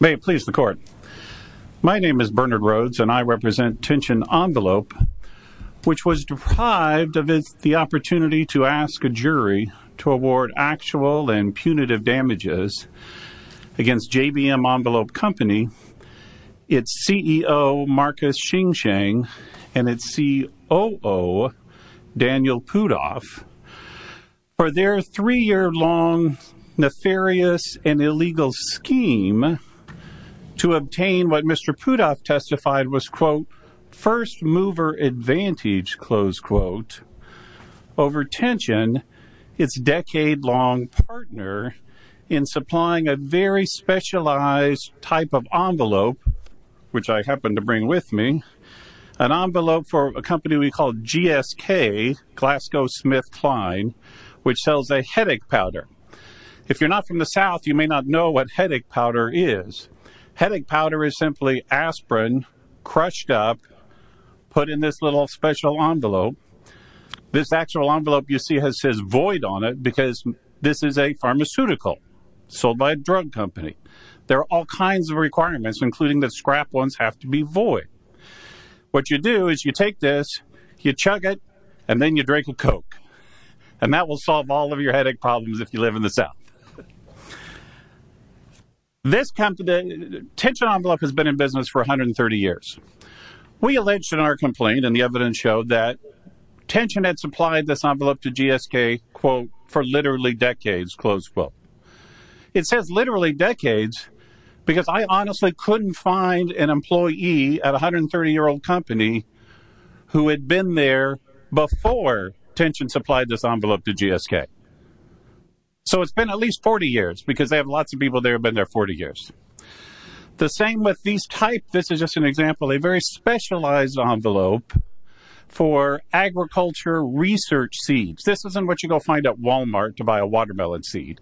May it please the court. My name is Bernard Rhodes and I represent Tension Envelope, which was deprived of the opportunity to ask a jury to award actual and punitive damages against JBM Envelope Company, its CEO Marcus Xingcheng and its COO Daniel Pudov for their three-year long nefarious and illegal scheme to obtain what Mr. Pudov testified was first mover advantage, close quote, over Tension, its decade-long partner in supplying a very specialized type of envelope, which I happen to bring with me, an envelope for a company we call GSK, Glasgow Smith Kline, which sells a headache powder. If you're not from the South, you may not know what headache powder is. Headache powder is simply aspirin crushed up, put in this little special envelope. This actual envelope you see has says void on it because this is a pharmaceutical sold by a drug company. There are all kinds of requirements, including that scrap ones have to void. What you do is you take this, you chug it, and then you drink a Coke, and that will solve all of your headache problems if you live in the South. This company, Tension Envelope, has been in business for 130 years. We alleged in our complaint and the evidence showed that Tension had supplied this envelope to GSK, quote, for literally decades, close quote. It says literally decades because I couldn't find an employee at a 130-year-old company who had been there before Tension supplied this envelope to GSK. So it's been at least 40 years because they have lots of people there have been there 40 years. The same with these types. This is just an example, a very specialized envelope for agriculture research seeds. This isn't what you go find at Walmart to buy a watermelon seed.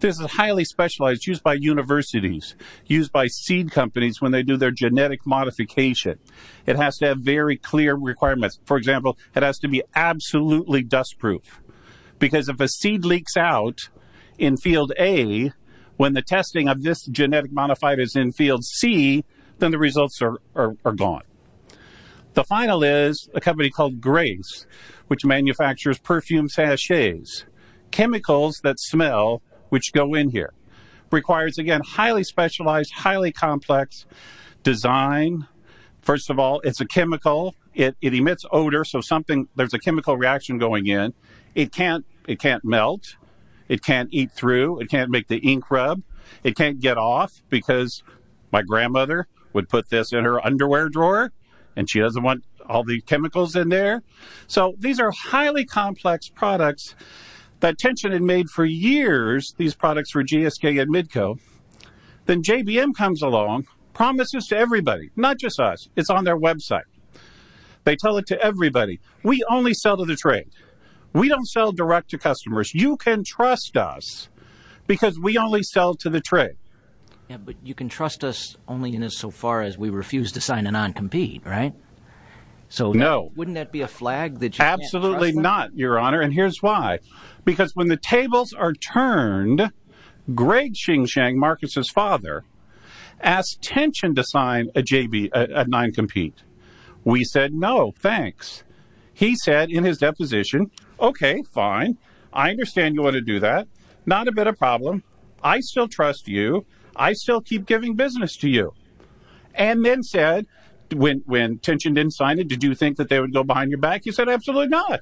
This is highly specialized, used by universities, used by seed companies when they do their genetic modification. It has to have very clear requirements. For example, it has to be absolutely dustproof because if a seed leaks out in field A, when the testing of this genetic modified is in field C, then the results are gone. The final is a company called Grace, which manufactures perfume sachets. Chemicals that smell, which go in here, requires, again, highly specialized, highly complex design. First of all, it's a chemical. It emits odor, so there's a chemical reaction going in. It can't melt. It can't eat through. It can't make the ink rub. It can't get off because my grandmother would put this in her underwear drawer and she doesn't want all the chemicals in there. So these are highly complex products that Tension had made for years. These products were GSK and Midco. Then JBM comes along, promises to everybody, not just us. It's on their website. They tell it to everybody. We only sell to the trade. We don't sell direct to customers. You can trust us because we only sell to the trade. Yeah, but you can trust us only in so far as we refuse to sign a non-compete, right? No. So wouldn't that be a flag that you can't trust? Absolutely not, Your Honor, and here's why. Because when the tables are turned, Greg Ching Shang, Marcus's father, asked Tension to sign a non-compete. We said, no, thanks. He said in his deposition, okay, fine. I understand you want to do that. Not a bit of problem. I still trust you. I still keep giving business to you. And then said, when Tension didn't sign it, did you think that they would go behind your back? He said, absolutely not.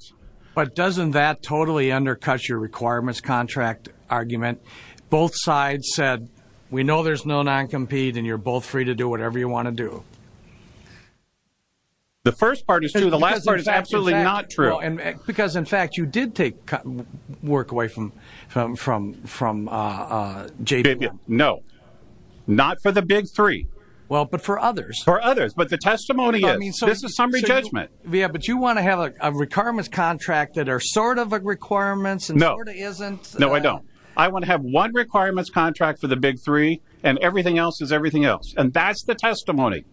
But doesn't that totally undercut your requirements contract argument? Both sides said, we know there's no non-compete and you're both free to do whatever you want to do. The first part is true. The last part is absolutely not true. Because, in fact, you did take work away from JPM. No, not for the big three. Well, but for others. For others. But the testimony is, this is summary judgment. Yeah, but you want to have a requirements contract that are sort of requirements and sort of isn't. No, I don't. I want to have one requirements contract for the big three and everything else is everything else. And that's the testimony.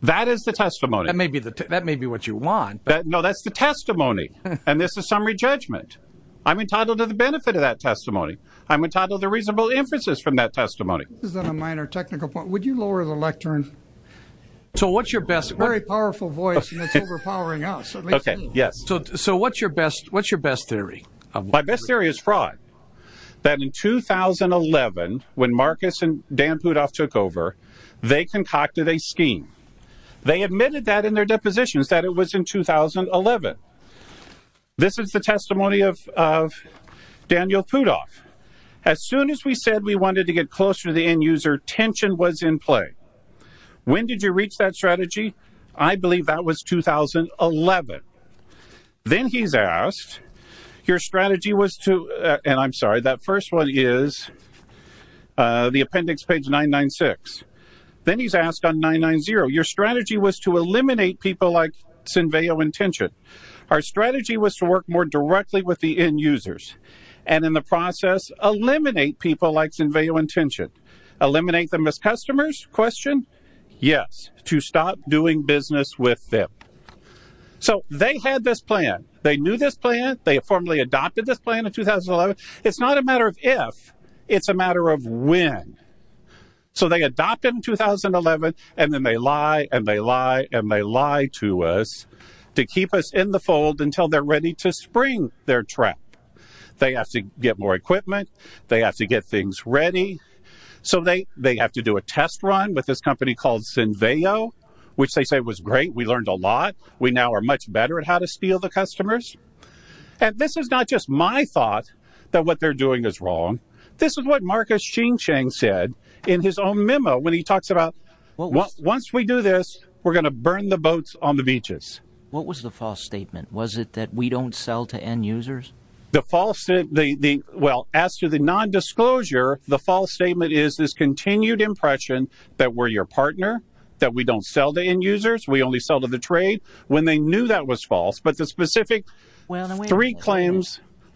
That is the testimony. That may be what you want. No, that's the testimony. And this is summary judgment. I'm entitled to the benefit of that testimony. I'm entitled to reasonable inferences from that testimony. Is that a minor technical point? Would you lower the lectern? So what's your best? Very powerful voice. And it's overpowering us. OK, yes. So what's your best? What's your best theory? My best theory is fraud. That in 2011, when Marcus and Dan Rudolph took over, they concocted a scheme. They admitted that in their depositions that it was in 2011. This is the testimony of Daniel Rudolph. As soon as we said we wanted to get closer to the end user, tension was in play. When did you reach that strategy? I believe that was 2011. Then he's asked, your strategy was to, and I'm sorry, that first one is the appendix page 996. Then he's asked on 990, your strategy was to eliminate people like Sinveo and Tension. Our strategy was to work more directly with the end users. And in the process, eliminate people like Sinveo and Tension. Eliminate them as customers? Question? Yes. To stop doing business with them. So they had this plan. They knew this plan. They formally adopted this plan in 2011. It's not a matter of if, it's a matter of when. So they adopted in 2011 and then they lie and they lie and they lie to us to keep us in the fold until they're ready to spring their trap. They have to get more equipment. They have to get things ready. So they have to do a test run with this company called Sinveo, which they say was great. We learned a lot. We now are much better at how to steal the customers. And this is not just my thought that what they're doing is wrong. This is what Marcus Ching Cheng said in his own memo when he talks about, once we do this, we're going to burn the boats on the beaches. What was the false statement? Was it that we don't sell to end users? The false statement, well, as to the non-disclosure, the false statement is this continued impression that we're your partner, that we don't sell to end users. We only sell to the trade when they knew that was false. But the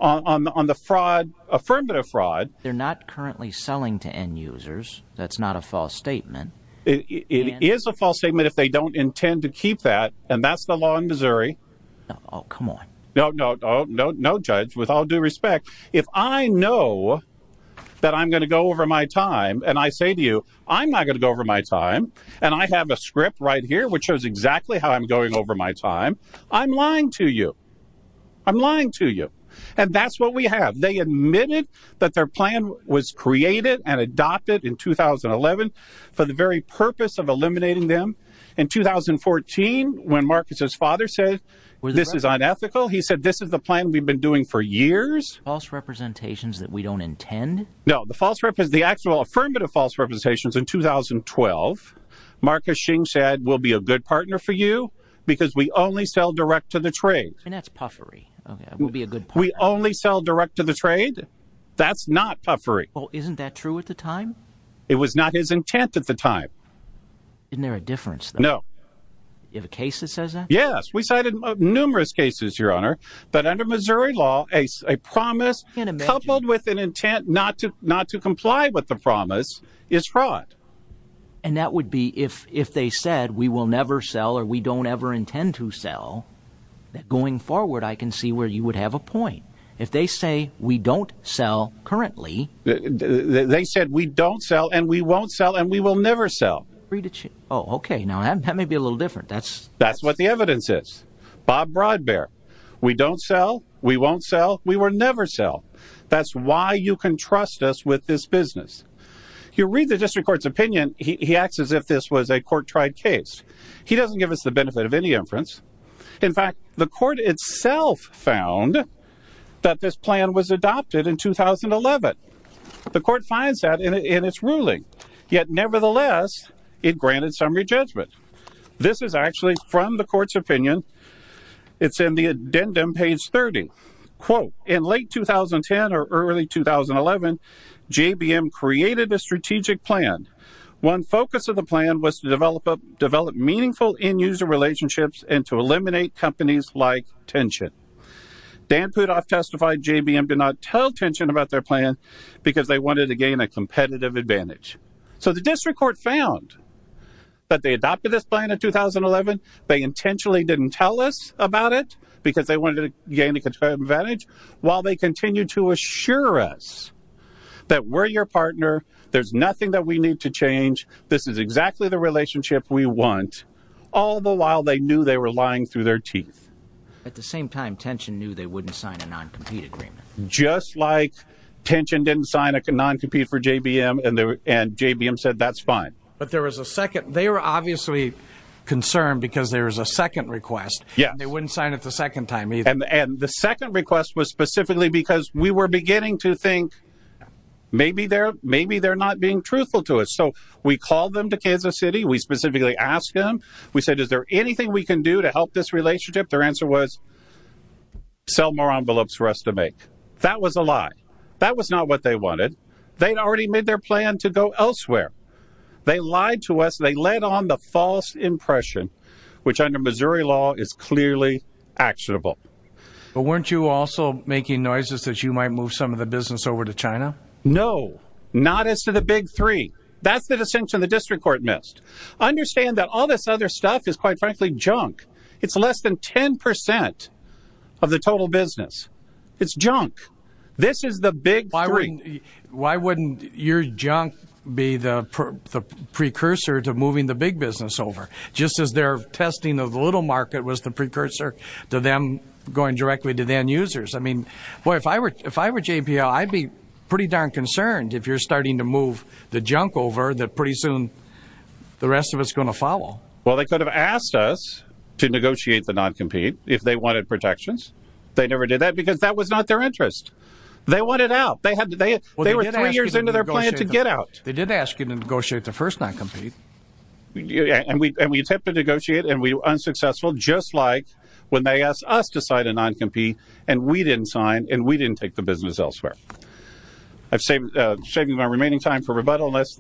on the fraud, affirmative fraud, they're not currently selling to end users. That's not a false statement. It is a false statement if they don't intend to keep that. And that's the law in Missouri. Oh, come on. No, no, no, no, no. Judge, with all due respect, if I know that I'm going to go over my time and I say to you, I'm not going to go over my time and I have a script right here, which shows exactly how I'm going over my time, I'm lying to you. I'm lying to you. And that's what we have. They admitted that their plan was created and adopted in 2011 for the very purpose of eliminating them. In 2014, when Marcus's father said this is unethical, he said this is the plan we've been doing for years. False representations that we don't intend. No, the false rep is the actual affirmative false representations. In 2012, Marcus Xing said, we'll be a good partner for you because we only sell direct to the trade. And that's puffery. We'll be a good. We only sell direct to the trade. That's not puffery. Well, isn't that true at the time? It was not his intent at the time. Isn't there a difference? No. You have a case that says that? Yes. We cited numerous cases, Your Honor. But under Missouri law, a promise coupled with an intent not to not to comply with the promise is fraud. And that would be if if they said we will never sell or we don't ever intend to sell. Going forward, I can see where you would have a point if they say we don't sell currently. They said we don't sell and we won't sell and we will never sell. Oh, OK. Now, that may be a little different. That's that's what the evidence is. Bob Broadbear. We don't sell. We won't sell. That's why you can trust us with this business. You read the district court's opinion. He acts as if this was a court tried case. He doesn't give us the benefit of any inference. In fact, the court itself found that this plan was adopted in 2011. The court finds that in its ruling. Yet nevertheless, it granted summary judgment. This is actually from the court's quote. In late 2010 or early 2011, J.B.M. created a strategic plan. One focus of the plan was to develop up, develop meaningful end user relationships and to eliminate companies like Tension. Dan Putoff testified J.B.M. did not tell Tension about their plan because they wanted to gain a competitive advantage. So the district court found that they adopted this plan in 2011. They intentionally didn't tell us about it because they wanted to gain advantage while they continue to assure us that we're your partner. There's nothing that we need to change. This is exactly the relationship we want. All the while, they knew they were lying through their teeth. At the same time, Tension knew they wouldn't sign a non-compete agreement, just like Tension didn't sign a non-compete for J.B.M. and J.B.M. said that's fine. But there was a second. They were obviously concerned because there was a second request. Yeah. They wouldn't sign it the second time. And the second request was specifically because we were beginning to think maybe they're maybe they're not being truthful to us. So we called them to Kansas City. We specifically asked them. We said, is there anything we can do to help this relationship? Their answer was sell more envelopes for us to make. That was a lie. That was not what they wanted. They'd already made their plan to go elsewhere. They lied to us. They led on the false impression, which under Missouri law is clearly actionable. But weren't you also making noises that you might move some of the business over to China? No, not as to the big three. That's the distinction the district court missed. Understand that all this other stuff is, quite frankly, junk. It's less than 10 percent of the total business. It's junk. This is the big why. Why wouldn't your junk be the precursor to moving the big business over just as their testing of the little market was the precursor to them going directly to then users? I mean, boy, if I were if I were JPL, I'd be pretty darn concerned if you're starting to move the junk over that pretty soon the rest of us going to follow. Well, they could have asked us to negotiate the noncompete if they wanted protections. They never did that because that was not their interest. They wanted out. They had to. They were three years into their plan to get out. They did ask you to negotiate the first noncompete. And we attempted to negotiate and we were unsuccessful, just like when they asked us to sign a noncompete and we didn't sign and we didn't take the business elsewhere. I've saved saving my remaining time for rebuttal. Yes,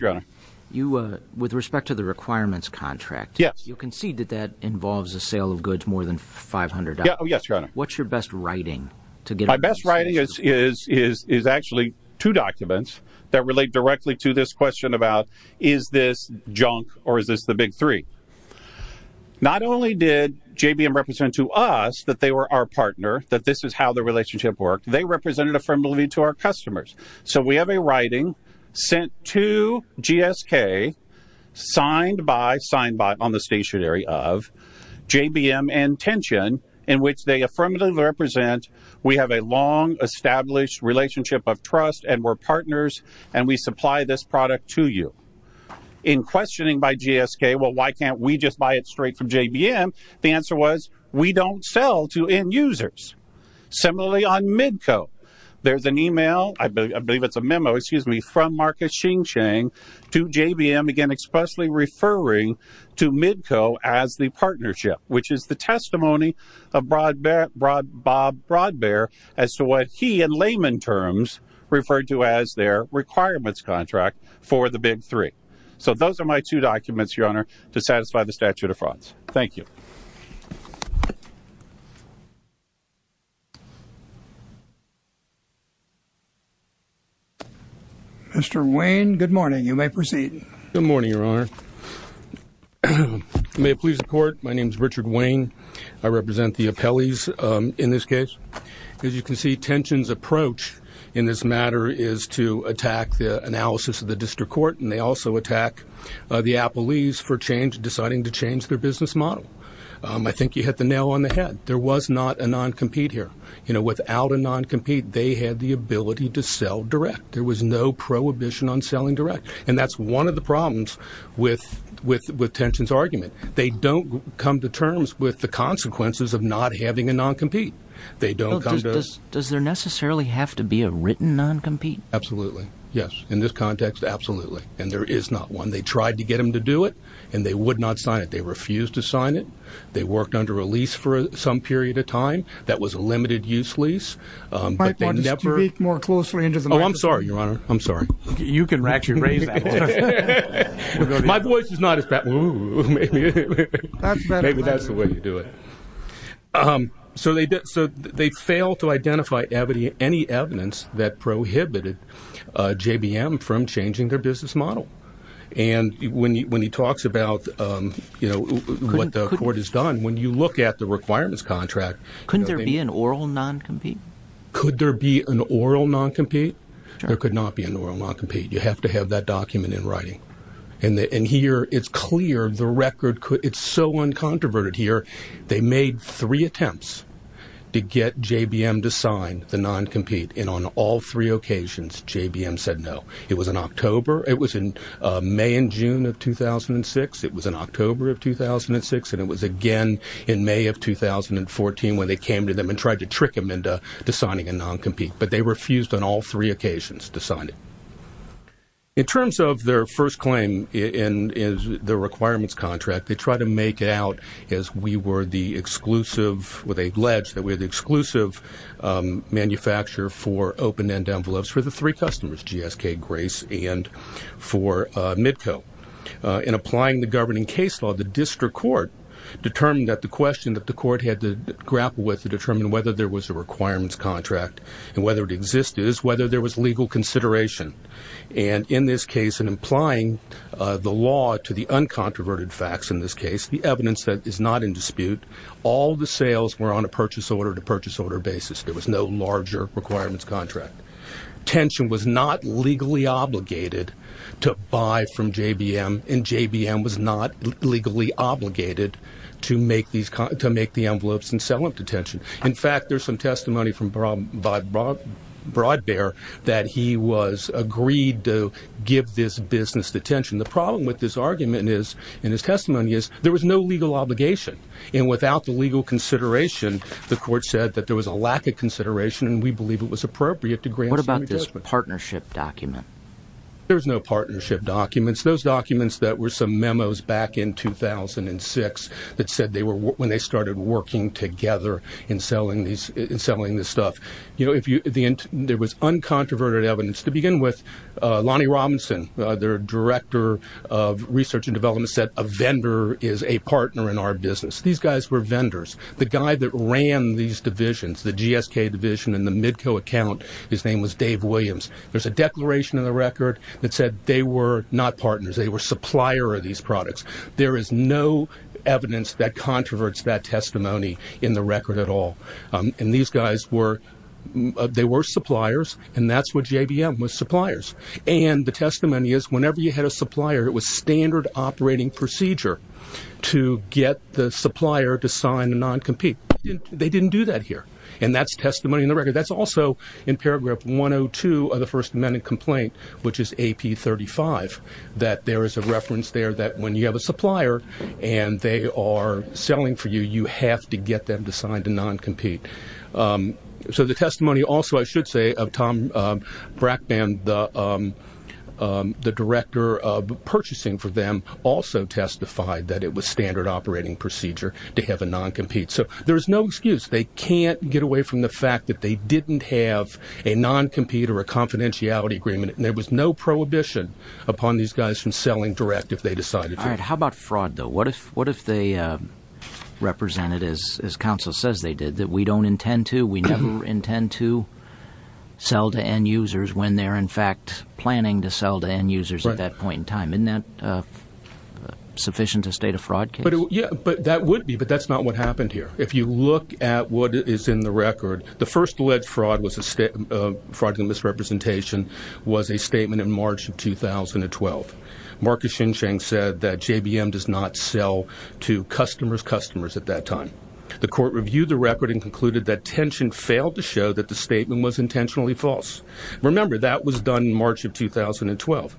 your honor. You with respect to the requirements contract. Yes. You concede that that involves a sale of goods more than 500. Yes, your honor. What's your best writing to get my best writing is is is actually two documents that relate directly to this question about is this junk or is this the big three? Not only did JBM represent to us that they were our partner, that this is how the relationship worked. They represented a friendly to our customers. So we have a writing sent to GSK signed by signed by on the stationery of JBM and tension in which they affirmatively represent. We have a long established relationship of trust and we're partners and we supply this product to you in questioning by GSK. Well, why can't we just buy it straight from JBM? The answer was we don't sell to end users. Similarly, on Medco, there's an email. I believe it's a memo, excuse me, from Marcus Ching Cheng to JBM again, expressly referring to Medco as the partnership, which is the testimony of broad broad broad broad bear as to what he and layman terms referred to as their requirements contract for the big three. So those are the two documents that we have. Mr. Wayne, good morning. You may proceed. Good morning, Your Honor. May it please the court. My name is Richard Wayne. I represent the appellees in this case. As you can see, tensions approach in this matter is to attack the analysis of the district court. And they also attack the appellees for change, deciding to change their business model. I think you hit the nail on the head. There was not a non-compete. They had the ability to sell direct. There was no prohibition on selling direct. And that's one of the problems with with with tensions argument. They don't come to terms with the consequences of not having a non-compete. They don't. Does there necessarily have to be a written non-compete? Absolutely. Yes. In this context, absolutely. And there is not one. They tried to get them to do it and they would not sign it. They refused to sign it. They worked under a for some period of time. That was a limited use lease. Oh, I'm sorry, Your Honor. I'm sorry. You can actually raise that. My voice is not as bad. Maybe that's the way you do it. So they did. So they fail to identify any evidence that prohibited J.B.M. from changing their business model. And when you when he talks about what the court has done, when you look at the requirements contract, couldn't there be an oral non-compete? Could there be an oral non-compete? There could not be an oral non-compete. You have to have that document in writing. And here it's clear the record. It's so uncontroverted here. They made three attempts to get J.B.M. to sign the non-compete. And on all three occasions, J.B.M. said no. It was in October. It was in May and June of 2006. It was in October of 2006. And it was again in May of 2014 when they came to them and tried to trick them into signing a non-compete. But they refused on all three occasions to sign it. In terms of their first claim in the requirements contract, they try to make it out as we were the exclusive, with a ledge, that we're the exclusive manufacturer for open-end envelopes for the three customers, GSK, Grace, and for Midco. In applying the governing case law, the district court determined that the question that the court had to grapple with to determine whether there was a requirements contract and whether it existed is whether there was legal consideration. And in this case, in applying the law to the uncontroverted facts in this case, the evidence is not in dispute. All the sales were on a purchase order-to-purchase order basis. There was no larger requirements contract. Tension was not legally obligated to buy from J.B.M. and J.B.M. was not legally obligated to make the envelopes and sell them to Tension. In fact, there's some testimony from Broadbear that he was agreed to give this business to Tension. The problem with this argument is, in his testimony, is there was no legal obligation, and without the legal consideration, the court said that there was a lack of consideration, and we believe it was appropriate to grant some adjustment. What about this partnership document? There's no partnership documents. Those documents that were some memos back in 2006 that said they were when they started working together in selling this stuff. You know, research and development said a vendor is a partner in our business. These guys were vendors. The guy that ran these divisions, the GSK division and the Midco account, his name was Dave Williams. There's a declaration in the record that said they were not partners. They were supplier of these products. There is no evidence that controverts that testimony in the record at all. And these guys were, they were suppliers, and that's what J.B.M. was, it was standard operating procedure to get the supplier to sign a non-compete. They didn't do that here, and that's testimony in the record. That's also in paragraph 102 of the First Amendment complaint, which is AP35, that there is a reference there that when you have a supplier and they are selling for you, you have to get them to sign a non-compete. So the testimony also, I should say, of Tom Brackman, the director of purchasing for them, also testified that it was standard operating procedure to have a non-compete. So there's no excuse. They can't get away from the fact that they didn't have a non-compete or a confidentiality agreement, and there was no prohibition upon these guys from selling direct if they decided to. All right, how about fraud, though? What if they represented, as counsel says they did, that we don't intend to, we never intend to sell to end-users when they're in fact planning to sell to end-users at that point in time? Isn't that sufficient to state a fraud case? Yeah, but that would be, but that's not what happened here. If you look at what is in the record, the first alleged fraud was a fraudulent misrepresentation, was a statement in March of 2012. Marcus Shinshang said that J.B.M. does not sell to customers' customers at that time. The court reviewed the record and concluded that tension failed to show that the statement was intentionally false. Remember, that was done in March of 2012.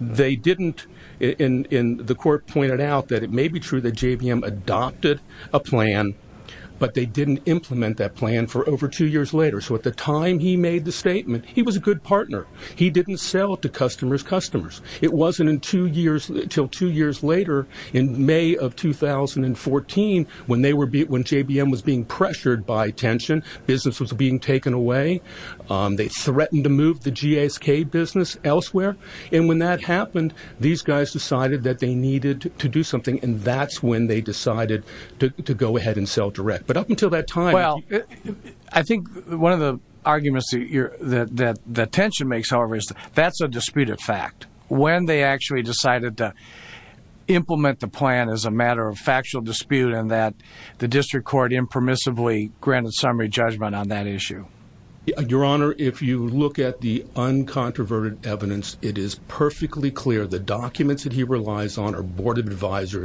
They didn't, and the court pointed out that it may be true that J.B.M. adopted a plan, but they didn't implement that plan for over two years later. So at the time he made the statement, he was a good partner. He didn't sell to customers' customers. It wasn't until two years later in May of 2014 when J.B.M. was being pressured by tension. Business was being taken away. They threatened to move the G.A.S.K. business elsewhere, and when that happened, these guys decided that they needed to do something, and that's when they decided to go ahead and sell direct. But up until that time... Well, I think one of the arguments that tension makes, however, is that that's a disputed fact. When they actually decided to implement the plan is a matter of factual dispute and that the district court impermissibly granted summary judgment on that issue. Your Honor, if you look at the uncontroverted evidence, it is perfectly clear the documents that he relies on are Board of Advisor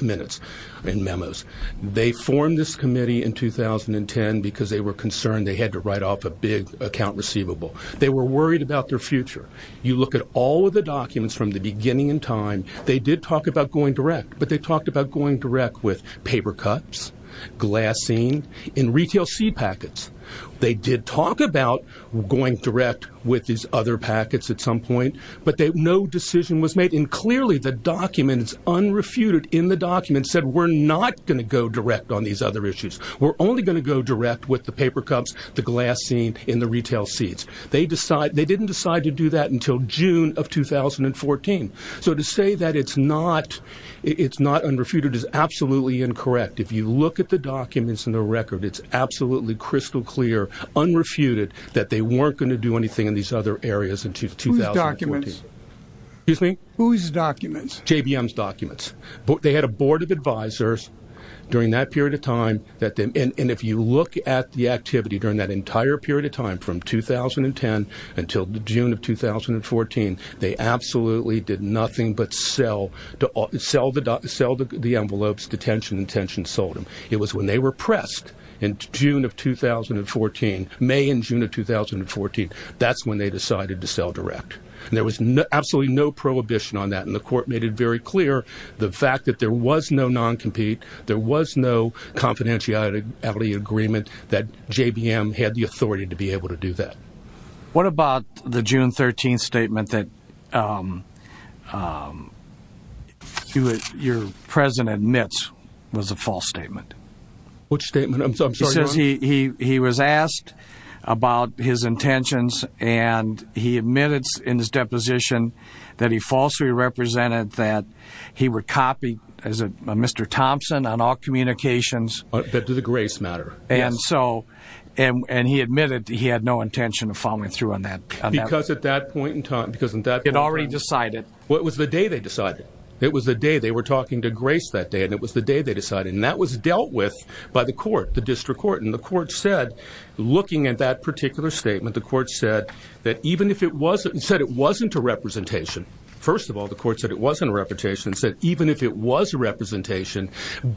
minutes and memos. They formed this committee in 2010 because they were concerned they had to write off a big account receivable. They were worried about their future. You look at all of the documents from the beginning in time. They did talk about going direct, but they talked about going direct with paper cuts, glassine, and retail seed packets. They did talk about going direct with these other packets at some point, but no decision was made, and clearly the documents unrefuted in the other issues. We're only going to go direct with the paper cups, the glassine, and the retail seeds. They didn't decide to do that until June of 2014. So to say that it's not unrefuted is absolutely incorrect. If you look at the documents in the record, it's absolutely crystal clear, unrefuted, that they weren't going to do anything in these other areas until 2014. Whose documents? Excuse me? Whose documents? JBM's documents. They had a Board of Advisors during that period of time, and if you look at the activity during that entire period of time from 2010 until June of 2014, they absolutely did nothing but sell the envelopes. Detention intentions sold them. It was when they were pressed in June of 2014, May and June of 2014, that's when they decided to sell direct. There was absolutely no prohibition on that, and the court made it very clear the fact that there was no non-compete, there was no confidentiality agreement, that JBM had the authority to be able to do that. What about the June 13th statement that your president admits was a false statement? Which statement? He says he was asked about his intentions, and he admits in his deposition that he falsely represented that he would copy Mr. Thompson on all communications. That the Grace matter. And he admitted he had no intention of following through on that. Because at that point in time... It already decided. Well, it was the day they decided. It was the day they were talking to Grace that day, and that was dealt with by the court, the district court, and the court said, looking at that particular statement, the court said that even if it wasn't a representation, first of all, the court said it wasn't a representation, it said even if it was a representation,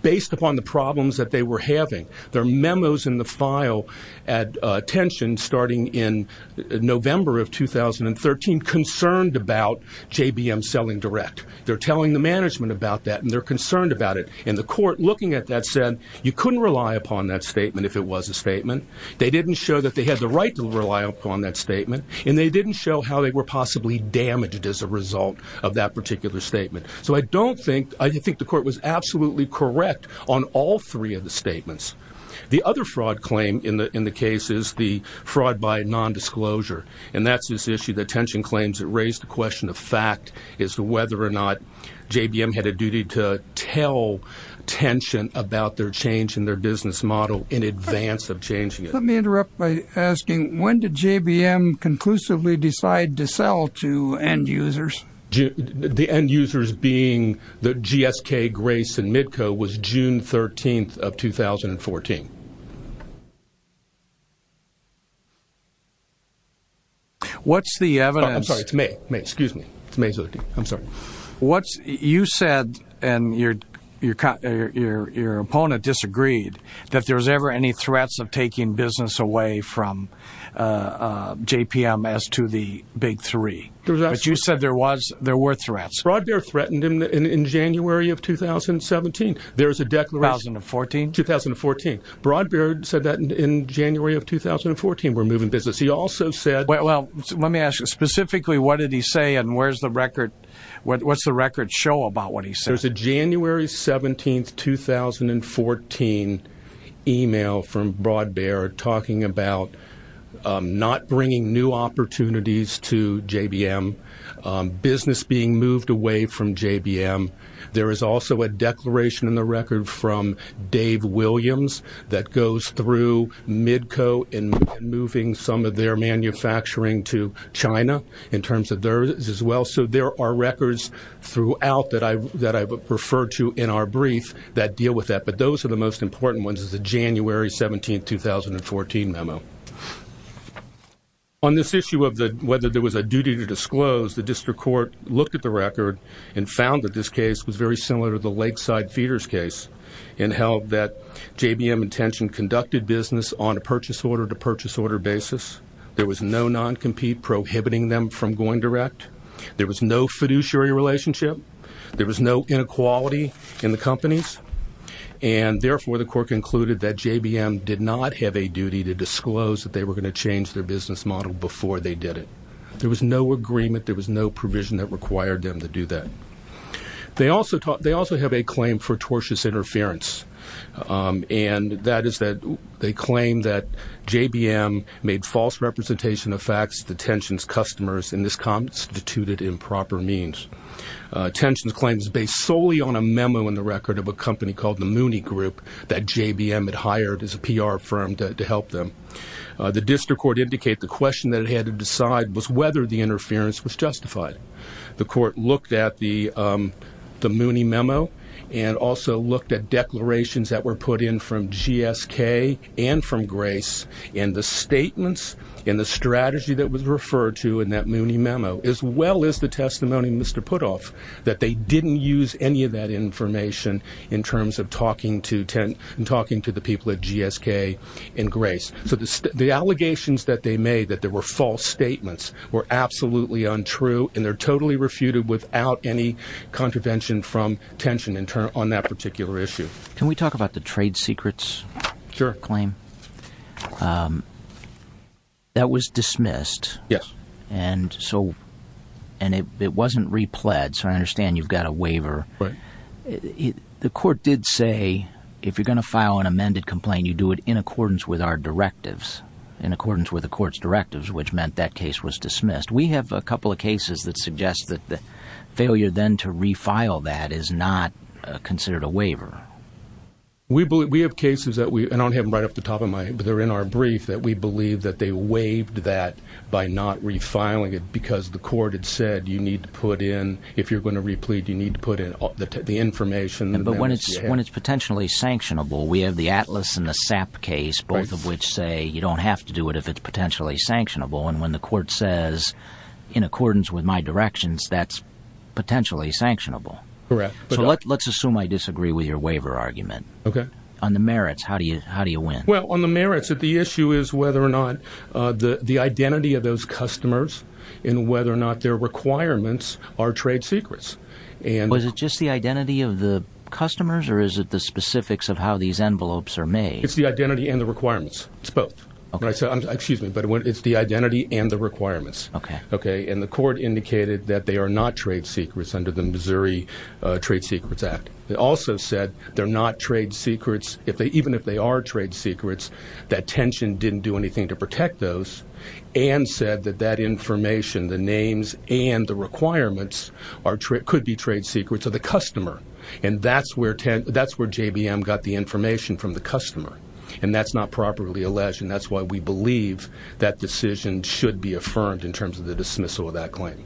based upon the problems that they were having, their memos in the file at attention starting in November of 2013 concerned about JBM selling direct. They're telling the management about that, and they're concerned about it, and the court, looking at that, said you couldn't rely upon that statement if it was a statement. They didn't show that they had the right to rely upon that statement, and they didn't show how they were possibly damaged as a result of that particular statement. So I don't think, I think the court was absolutely correct on all three of the statements. The other fraud claim in the case is the fraud by non-disclosure, and that's this issue that claims that raised the question of fact as to whether or not JBM had a duty to tell tension about their change in their business model in advance of changing it. Let me interrupt by asking, when did JBM conclusively decide to sell to end users? The end users being the GSK, Grace, and Midco was June 13th of 2014. What's the evidence? I'm sorry, it's May. May, excuse me. It's May 13th. I'm sorry. What's, you said, and your opponent disagreed, that there was ever any threats of taking business away from JBM as to the big three. But you said there was, there were threats. Broadbeer threatened in January of 2017. There was a declaration. 2014? 2014. Broadbeer said that in January of 2014, we're moving business. He also said. Well, let me ask you specifically, what did he say? And where's the record? What's the record show about what he said? There's a January 17th, 2014 email from Broadbeer talking about not bringing new opportunities to JBM, business being moved away from JBM. There is also a declaration in the record from Dave Williams that goes through Midco and moving some of their manufacturing to China in terms of theirs as well. So there are records throughout that I've referred to in our brief that deal with that. But those are the most important ones is the January 17th, 2014 memo. On this issue of whether there was a duty to disclose, the district court looked at the record and found that this case was very similar to the lakeside feeders case and held that JBM intention conducted business on a purchase order to purchase order basis. There was no non-compete prohibiting them from going direct. There was no fiduciary relationship. There was no inequality in the companies. And therefore, the court concluded that JBM did not have a duty to disclose that they were going to change their business model before they did it. There was no agreement. There was no provision that required them to do that. They also have a claim for tortious interference. And that is that they claim that JBM made false representation of facts, the tensions customers in this constituted improper means. Tensions claims based solely on a memo in the record of a company called the Mooney Group that JBM had hired as a PR firm to help them. The district court indicate the question that it had to decide was whether the justified the court looked at the the Mooney memo and also looked at declarations that were put in from GSK and from Grace in the statements in the strategy that was referred to in that Mooney memo, as well as the testimony, Mr. Putoff, that they didn't use any of that information in terms of talking to and talking to the people at GSK and Grace. So the allegations that they made that there were false statements were absolutely untrue and they're totally refuted without any contravention from tension on that particular issue. Can we talk about the trade secrets claim? That was dismissed. Yes. And so and it wasn't repled. So I understand you've got a waiver. The court did say, if you're going to file an amended complaint, you do it in accordance with our directives, in accordance with the court's directives, which meant that case was dismissed. We have a couple of cases that suggest that the failure then to refile that is not considered a waiver. We believe we have cases that we don't have them right off the top of my they're in our brief that we believe that they waived that by not refiling it because the court had said you need to put in if you're going to replete, you need to put in the information. But when it's when it's potentially sanctionable, we have the Atlas and the SAP case, both of which say you don't have to do it if it's potentially sanctionable. And when the court says, in accordance with my directions, that's potentially sanctionable. Correct. Let's assume I disagree with your waiver argument. OK, on the merits, how do you how do you win? Well, on the merits of the issue is whether or not the identity of those customers and whether or not their requirements are trade secrets. Was it just the identity of the customers or is it the specifics of how these envelopes are made? It's the identity and the requirements. It's both. Excuse me, but it's the identity and the requirements. OK. OK. And the court indicated that they are not trade secrets under the Missouri Trade Secrets Act. It also said they're not trade secrets if they even if they are trade secrets, that tension didn't do anything to protect those and said that that information, the names and the requirements are could be trade secrets of the customer. And that's where that's where JBM got the information from the customer. And that's not properly alleged. And that's why we believe that decision should be affirmed in terms of the dismissal of that claim.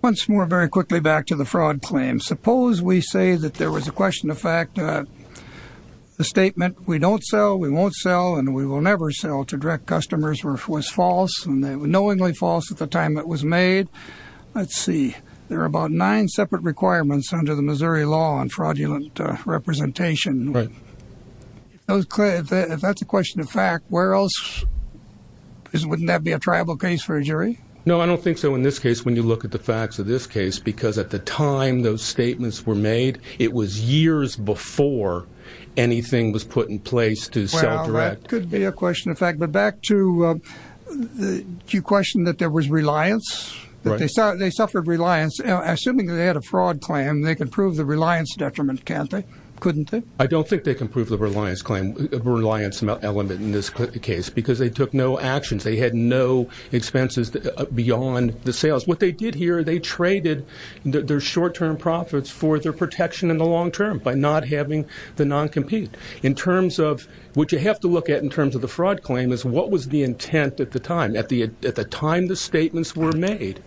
Once more, very quickly, back to the fraud claim. Suppose we say that there was a question of fact, the statement we don't sell, we won't sell and we will never sell to direct customers was false and they were knowingly false at the time it was made. Let's see. There are about nine separate requirements under the Missouri law on fraudulent representation. Right. It was clear that if that's a question of fact, where else wouldn't that be a tribal case for a jury? No, I don't think so. In this case, when you look at the facts of this case, because at the time those statements were made, it was years before anything was put in place that could be a question of fact. But back to the question that there was reliance, they suffered reliance. Assuming they had a fraud claim, they could prove the reliance detriment. Can't they? Couldn't they? I don't think they can prove the reliance claim reliance element in this case because they took no actions. They had no expenses beyond the sales. What they did here, they traded their short term profits for their protection in the long term by not having the non-compete in terms of what you have to look at in terms of the fraud claim is what was the intent at the time, at the at the time the statements were made,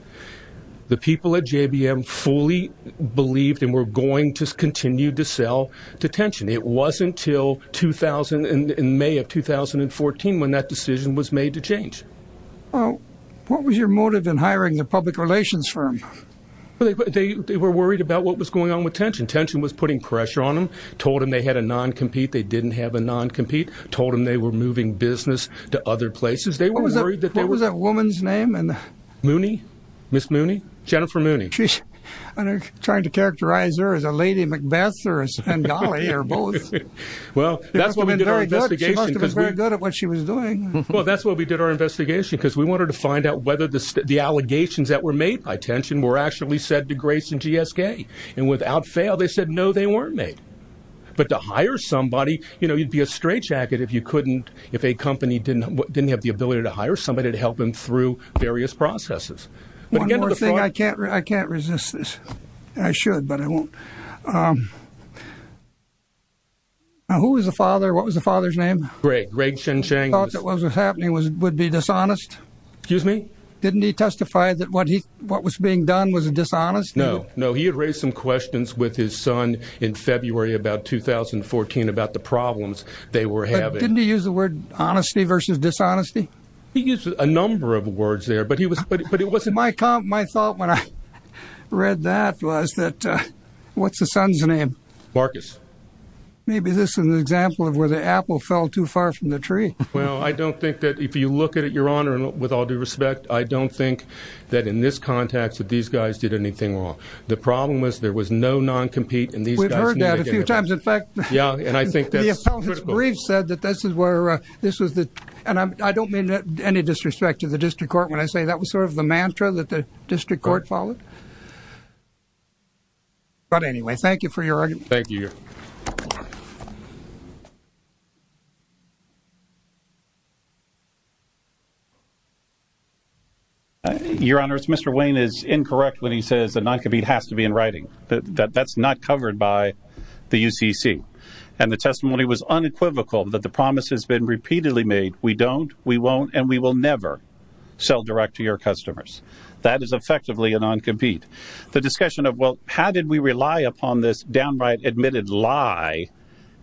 the people at JBM fully believed and were going to continue to sell to tension. It wasn't until 2000 in May of 2014 when that decision was made to change. What was your motive in hiring the public relations firm? They were worried about what was going on with tension. Tension was putting pressure told them they had a non-compete. They didn't have a non-compete, told them they were moving business to other places. They were worried that there was a woman's name and Mooney, Miss Mooney, Jennifer Mooney. She's trying to characterize her as a lady, Macbeth or Bengali or both. Well, that's what we did. Very good at what she was doing. Well, that's what we did our investigation because we wanted to find out whether the allegations that were made by tension were actually said to grace and GSK. And without fail, they said, no, they weren't made. But to hire somebody, you know, you'd be a straitjacket if you couldn't, if a company didn't didn't have the ability to hire somebody to help them through various processes. One more thing. I can't I can't resist this. I should, but I won't. Who was the father? What was the father's name? Greg, Greg Chen Chang. That was happening was would be dishonest. Excuse me. Didn't he testify that what he what was being done was dishonest? No, no. He had raised some questions with his son in February about 2014, about the problems they were having. Didn't he use the word honesty versus dishonesty? He used a number of words there, but he was but it wasn't my comp. My thought when I read that was that what's the son's name? Marcus. Maybe this is an example of where the apple fell too far from the tree. Well, I don't think that if you look at it, your honor, and with all due respect, I don't think that in this context that these guys did anything wrong. The problem was there was no non-compete in these guys. We've heard that a few times. In fact, yeah, and I think that brief said that this is where this was. And I don't mean any disrespect to the district court when I say that was sort of the mantra that the district court followed. But anyway, thank you for your argument. Your honor, Mr. Wayne is incorrect when he says that non-compete has to be in writing. That's not covered by the UCC. And the testimony was unequivocal that the promise has been repeatedly made. We don't, we won't, and we will never sell direct to your customers. That is effectively a non-compete. The discussion of, well, how did we rely upon this downright admitted lie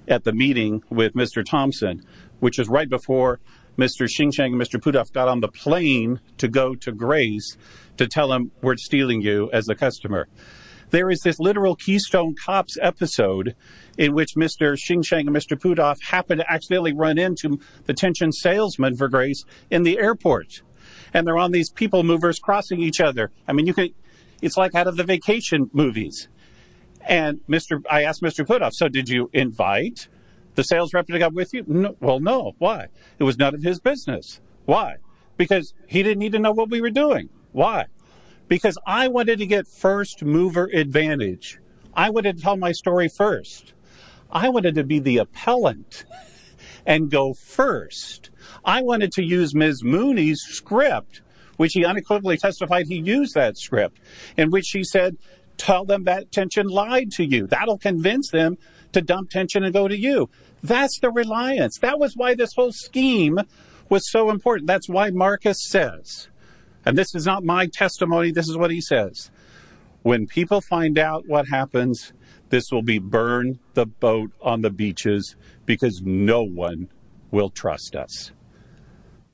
at the meeting with Mr. Thompson, which is right before Mr. Xing Sheng and Mr. Pudov got on the plane to go to Grace to tell him we're stealing you as a customer. There is this literal Keystone Cops episode in which Mr. Xing Sheng and Mr. Pudov happen to accidentally run into the attention salesman for Grace in the airport. And they're on these people movers crossing each other. I mean, you could, it's like out of the vacation movies. And Mr. I asked Mr. Pudov, so did you invite the sales rep to come with you? Well, no. Why? It was none of his business. Why? Because he didn't need to know what we were doing. Why? Because I wanted to get first mover advantage. I wanted to tell my story first. I wanted to be the appellant and go first. I wanted to use Ms. Mooney's script, which he unequivocally testified he used that script in which he said, tell them that tension lied to you. That'll convince them to dump tension and go to you. That's the reliance. That was why this whole scheme was so important. That's why Marcus says, and this is not my testimony. This is what he says. When people find out what happens, this will be burned the boat on the beaches because no one will trust us.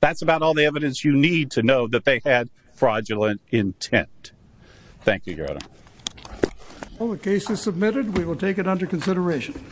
That's about all the evidence you need to know that they had fraudulent intent. Thank you, Gerardo. Well, the case is submitted. We will take it under consideration.